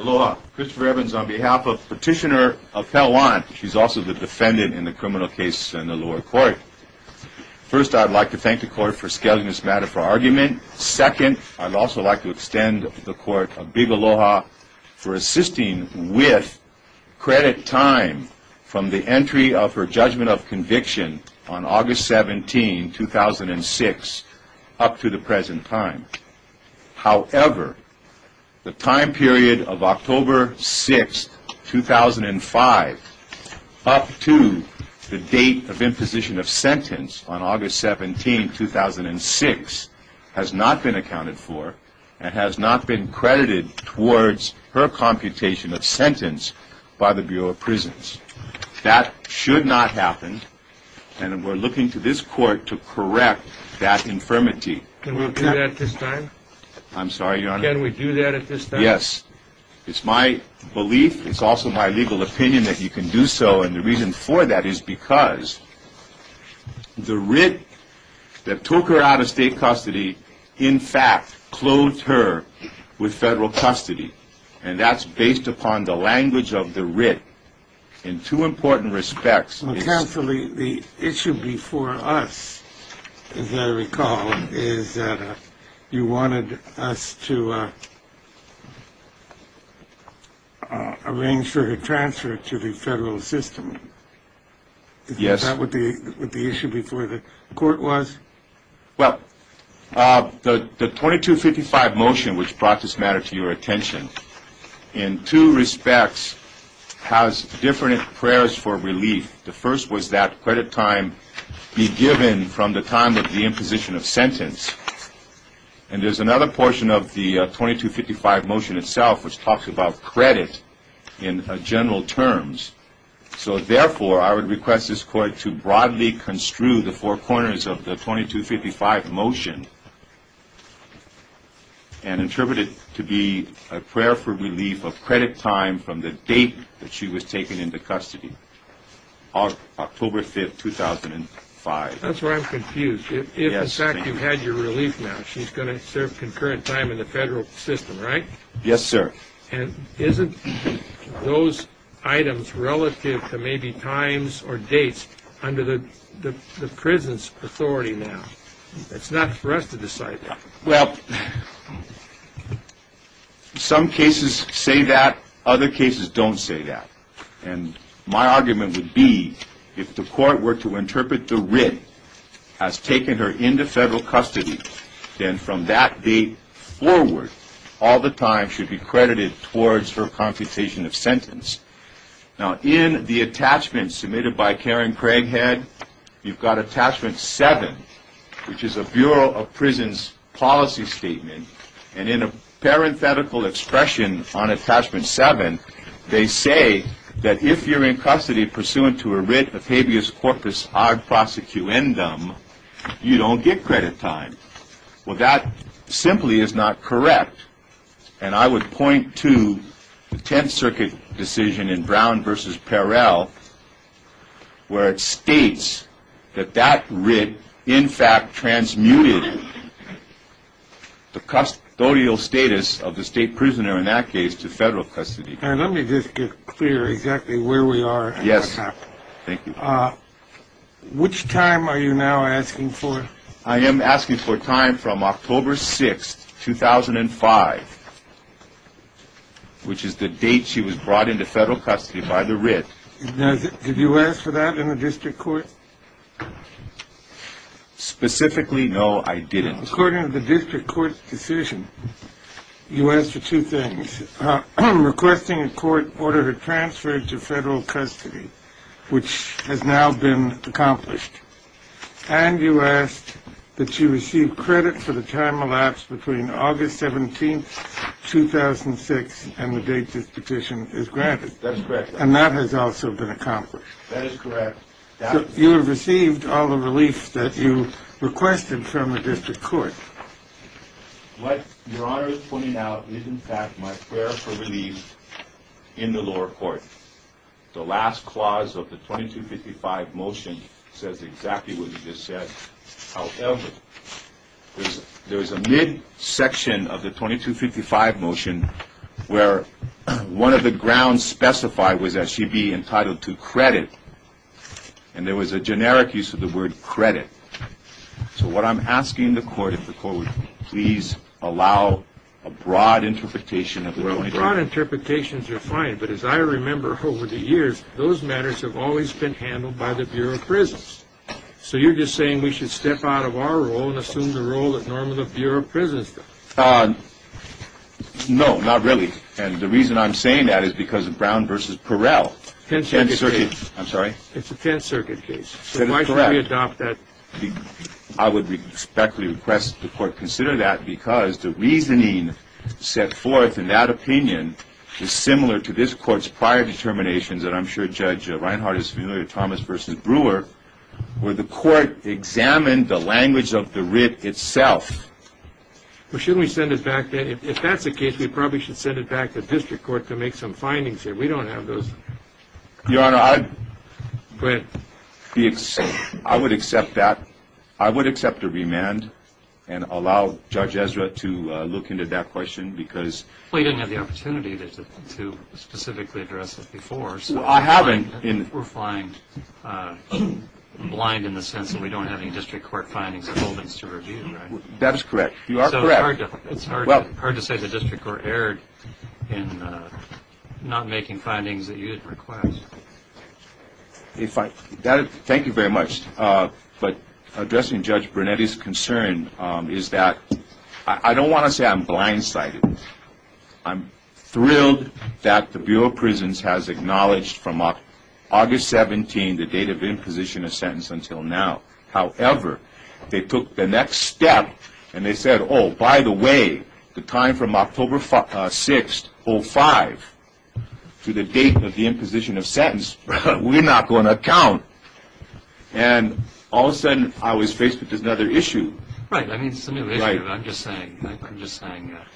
Aloha. Christopher Evans on behalf of Petitioner of Pehlewan. She's also the defendant in the criminal case in the lower court. First, I'd like to thank the court for scaling this matter for argument. Second, I'd also like to extend the court a big aloha for assisting with credit time from the entry of her judgment of conviction on August 17, 2006 up to the present time. However, the time period of October 6, 2005 up to the date of imposition of sentence on August 17, 2006 has not been accounted for and has not been credited towards her computation of sentence by the Bureau of Prisons. That should not happen and we're looking to this court to correct that infirmity. Can we do that at this time? I'm sorry, Your Honor. Can we do that at this time? Yes. It's my belief. It's also my legal opinion that you can do so and the reason for that is because the writ that took her out of state custody in fact clothed her with federal custody and that's based upon the language of the writ in two important respects. Counsel, the issue before us, as I recall, is that you wanted us to arrange for her transfer to the federal system. Yes. Is that what the issue before the court was? Well, the 2255 motion which brought this matter to your attention in two respects has different prayers for relief. The first was that credit time be given from the time of the imposition of sentence and there's another portion of the 2255 motion itself which talks about credit in general terms. So therefore, I would request this court to broadly construe the four corners of the 2255 motion and interpret it to be a prayer for relief of credit time from the date that she was taken into custody, October 5th, 2005. That's where I'm confused. Yes, thank you. If in fact you had your relief now, she's going to serve concurrent time in the federal system, right? Yes, sir. And isn't those items relative to maybe times or dates under the prison's authority now? It's not for us to decide that. Well, some cases say that, other cases don't say that. And my argument would be if the court were to interpret the writ as taking her into federal custody, then from that date forward, all the time should be credited towards her computation of sentence. Now, in the attachment submitted by Karen Craighead, you've got attachment 7, which is a Bureau of Prisons policy statement. And in a parenthetical expression on attachment 7, they say that if you're in custody pursuant to a writ of habeas corpus ad prosecuendum, you don't get credit time. Well, that simply is not correct. And I would point to the Tenth Circuit decision in Brown v. Perrell where it states that that writ in fact transmuted the custodial status of the state prisoner in that case to federal custody. Let me just get clear exactly where we are. Yes. Thank you. Which time are you now asking for? I am asking for time from October 6, 2005, which is the date she was brought into federal custody by the writ. Now, did you ask for that in the district court? Specifically, no, I didn't. According to the district court's decision, you asked for two things. Requesting a court order to transfer her to federal custody, which has now been accomplished. And you asked that she receive credit for the time elapsed between August 17, 2006, and the date this petition is granted. That's correct. And that has also been accomplished. That is correct. You have received all the relief that you requested from the district court. What Your Honor is pointing out is in fact my prayer for relief in the lower court. The last clause of the 2255 motion says exactly what you just said. However, there is a midsection of the 2255 motion where one of the grounds specified was that she be entitled to credit. And there was a generic use of the word credit. So what I'm asking the court, if the court would please allow a broad interpretation of the 2255. Broad interpretations are fine, but as I remember over the years, those matters have always been handled by the Bureau of Prisons. So you're just saying we should step out of our role and assume the role that normally the Bureau of Prisons does? No, not really. And the reason I'm saying that is because of Brown v. Perrell. It's a Tenth Circuit case. I'm sorry? It's a Tenth Circuit case. So why should we adopt that? I would respectfully request the court consider that because the reasoning set forth in that opinion is similar to this court's prior determinations, and I'm sure Judge Reinhart is familiar with Thomas v. Brewer, where the court examined the language of the writ itself. Well, shouldn't we send it back then? If that's the case, we probably should send it back to the district court to make some findings there. We don't have those. Your Honor, I'd... Go ahead. I would accept that. I would accept a remand and allow Judge Ezra to look into that question because... Well, you didn't have the opportunity to specifically address it before. I haven't. We're flying blind in the sense that we don't have any district court findings or holdings to review, right? That is correct. You are correct. It's hard to say the district court erred in not making findings that you didn't request. Thank you very much. But addressing Judge Brunetti's concern is that I don't want to say I'm blindsided. I'm thrilled that the Bureau of Prisons has acknowledged from August 17, the date of imposition of sentence, until now. However, they took the next step and they said, oh, by the way, the time from October 6, 2005, to the date of the imposition of sentence, we're not going to count. And all of a sudden, I was faced with another issue. Right. I mean, it's a new issue. I'm just saying.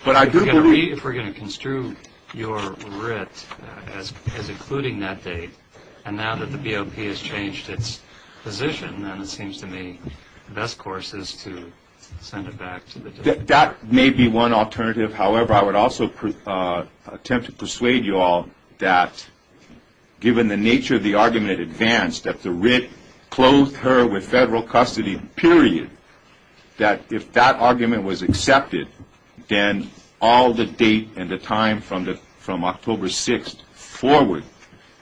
But I do believe... If we're going to construe your writ as including that date, and now that the BOP has changed its position, then it seems to me the best course is to send it back to the district court. That may be one alternative. However, I would also attempt to persuade you all that given the nature of the argument in advance, that the writ closed her with federal custody, period, that if that argument was accepted, then all the date and the time from October 6th forward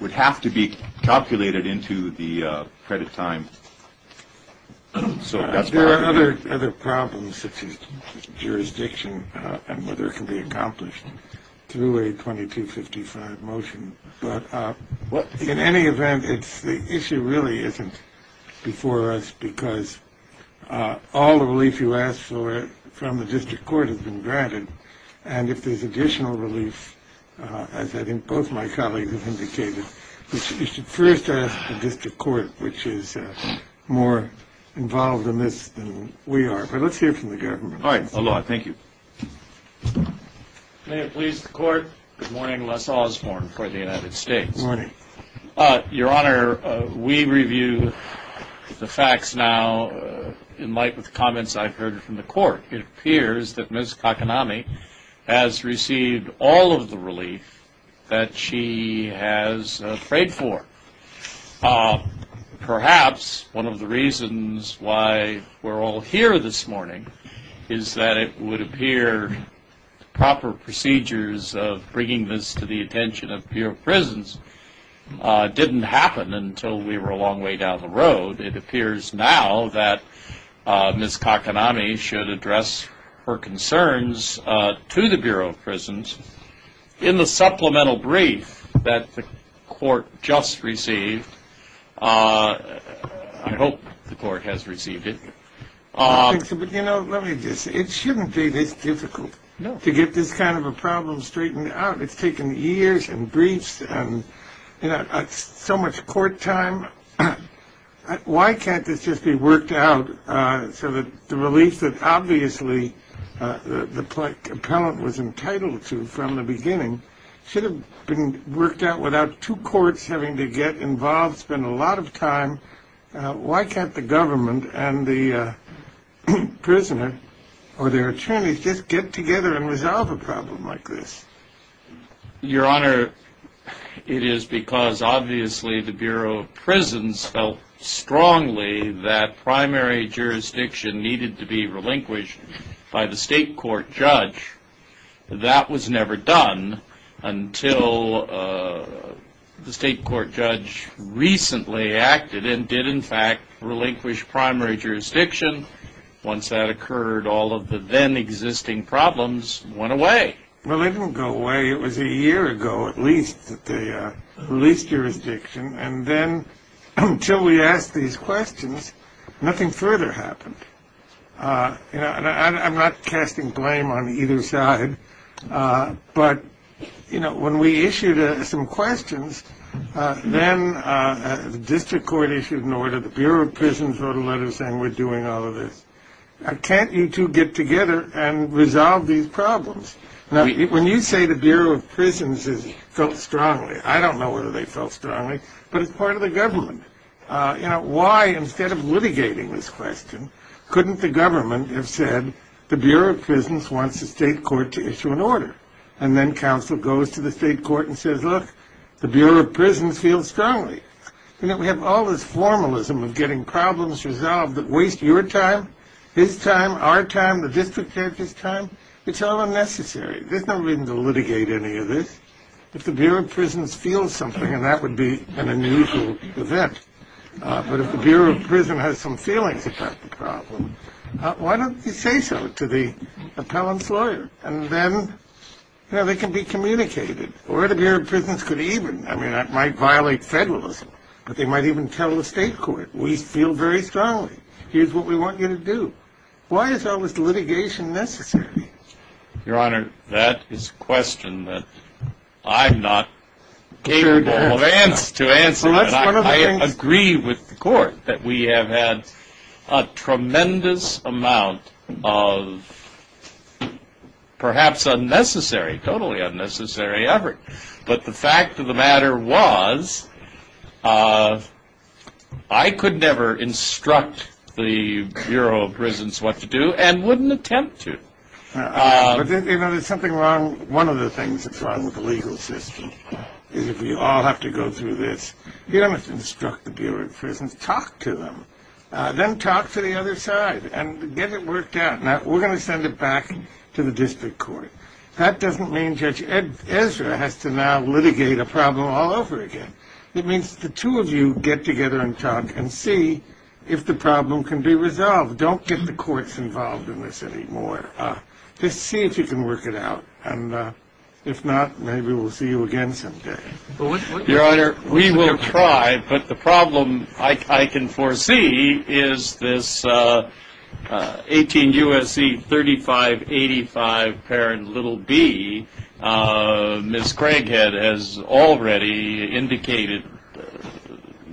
would have to be calculated into the credit time. There are other problems such as jurisdiction and whether it can be accomplished through a 2255 motion. But in any event, the issue really isn't before us because all the relief you asked for from the district court has been granted. And if there's additional relief, as I think both my colleagues have indicated, you should first ask the district court, which is more involved in this than we are. But let's hear from the government. All right. Thank you. May it please the court. Good morning. Les Osborne for the United States. Good morning. Your Honor, we review the facts now in light with comments I've heard from the court. It appears that Ms. Kakanami has received all of the relief that she has prayed for. Perhaps one of the reasons why we're all here this morning is that it would appear proper procedures of bringing this to the attention of Bureau of Prisons didn't happen until we were a long way down the road. It appears now that Ms. Kakanami should address her concerns to the Bureau of Prisons. In the supplemental brief that the court just received, I hope the court has received it. But, you know, let me just say it shouldn't be this difficult to get this kind of a problem straightened out. It's taken years and briefs and so much court time. Why can't this just be worked out so that the relief that obviously the appellant was entitled to from the beginning should have been worked out without two courts having to get involved, spend a lot of time? Why can't the government and the prisoner or their attorneys just get together and resolve a problem like this? Your Honor, it is because obviously the Bureau of Prisons felt strongly that primary jurisdiction needed to be relinquished by the state court judge. That was never done until the state court judge recently acted and did, in fact, relinquish primary jurisdiction. Once that occurred, all of the then existing problems went away. Well, they didn't go away. It was a year ago at least that they released jurisdiction. And then until we asked these questions, nothing further happened. You know, I'm not casting blame on either side. But, you know, when we issued some questions, then the district court issued an order. The Bureau of Prisons wrote a letter saying we're doing all of this. Can't you two get together and resolve these problems? Now, when you say the Bureau of Prisons felt strongly, I don't know whether they felt strongly, but it's part of the government. You know, why, instead of litigating this question, couldn't the government have said the Bureau of Prisons wants the state court to issue an order? And then counsel goes to the state court and says, look, the Bureau of Prisons feels strongly. You know, we have all this formalism of getting problems resolved that waste your time, his time, our time, the district judge's time. It's all unnecessary. There's no reason to litigate any of this. If the Bureau of Prisons feels something, then that would be an unusual event. But if the Bureau of Prisons has some feelings about the problem, why don't you say so to the appellant's lawyer? And then, you know, they can be communicated. Or the Bureau of Prisons could even, I mean, that might violate federalism, but they might even tell the state court, we feel very strongly. Here's what we want you to do. Why is all this litigation necessary? Your Honor, that is a question that I'm not capable of answering. I agree with the court that we have had a tremendous amount of perhaps unnecessary, totally unnecessary effort. But the fact of the matter was I could never instruct the Bureau of Prisons what to do and wouldn't attempt to. You know, there's something wrong. One of the things that's wrong with the legal system is if we all have to go through this, you don't have to instruct the Bureau of Prisons. Talk to them. Then talk to the other side and get it worked out. Now, we're going to send it back to the district court. That doesn't mean Judge Ezra has to now litigate a problem all over again. It means the two of you get together and talk and see if the problem can be resolved. Don't get the courts involved in this anymore. Just see if you can work it out. And if not, maybe we'll see you again someday. Your Honor, we will try. But the problem I can foresee is this 18 U.S.C. 3585 parent little B. Ms. Craighead has already indicated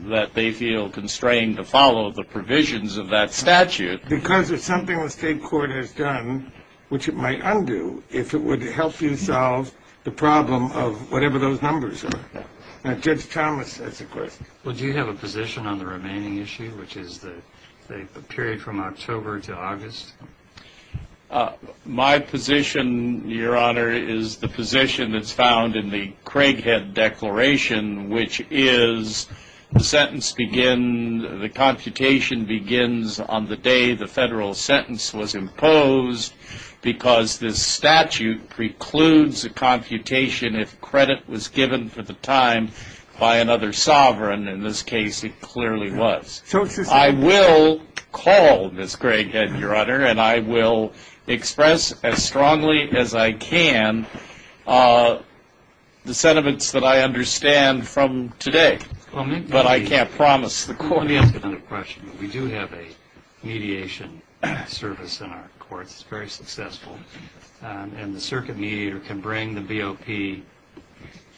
that they feel constrained to follow the provisions of that statute. Because it's something the state court has done, which it might undo, if it would help you solve the problem of whatever those numbers are. Now, Judge Thomas has a question. Well, do you have a position on the remaining issue, which is the period from October to August? My position, Your Honor, is the position that's found in the Craighead Declaration, which is the sentence begins, the computation begins on the day the federal sentence was imposed, because this statute precludes a computation if credit was given for the time by another sovereign. In this case, it clearly was. I will call Ms. Craighead, Your Honor, and I will express as strongly as I can the sentiments that I understand from today. But I can't promise the court. Let me ask another question. We do have a mediation service in our courts. It's very successful. And the circuit mediator can bring the BOP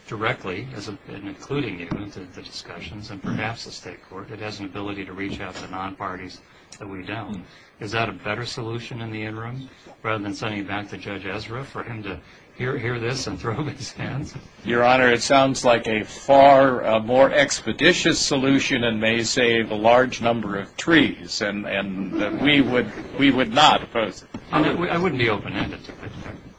directly, including you, into the discussions, and perhaps the state court. It has an ability to reach out to non-parties that we don't. Is that a better solution in the interim, rather than sending it back to Judge Ezra for him to hear this and throw up his hands? Your Honor, it sounds like a far more expeditious solution and may save a large number of trees, and we would not oppose it. I wouldn't be open-ended.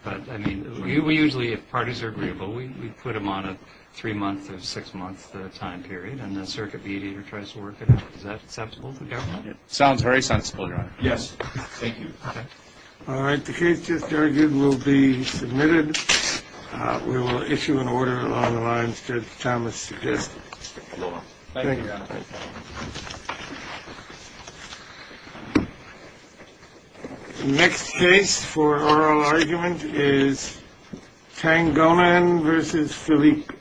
But, I mean, we usually, if parties are agreeable, we put them on a three-month or six-month time period, and the circuit mediator tries to work it out. Is that acceptable to the government? It sounds very sensible, Your Honor. Yes. Thank you. All right. The case just argued will be submitted. We will issue an order along the lines Judge Thomas suggested. Thank you, Your Honor. Thank you. The next case for oral argument is Tangonan v. Philippe.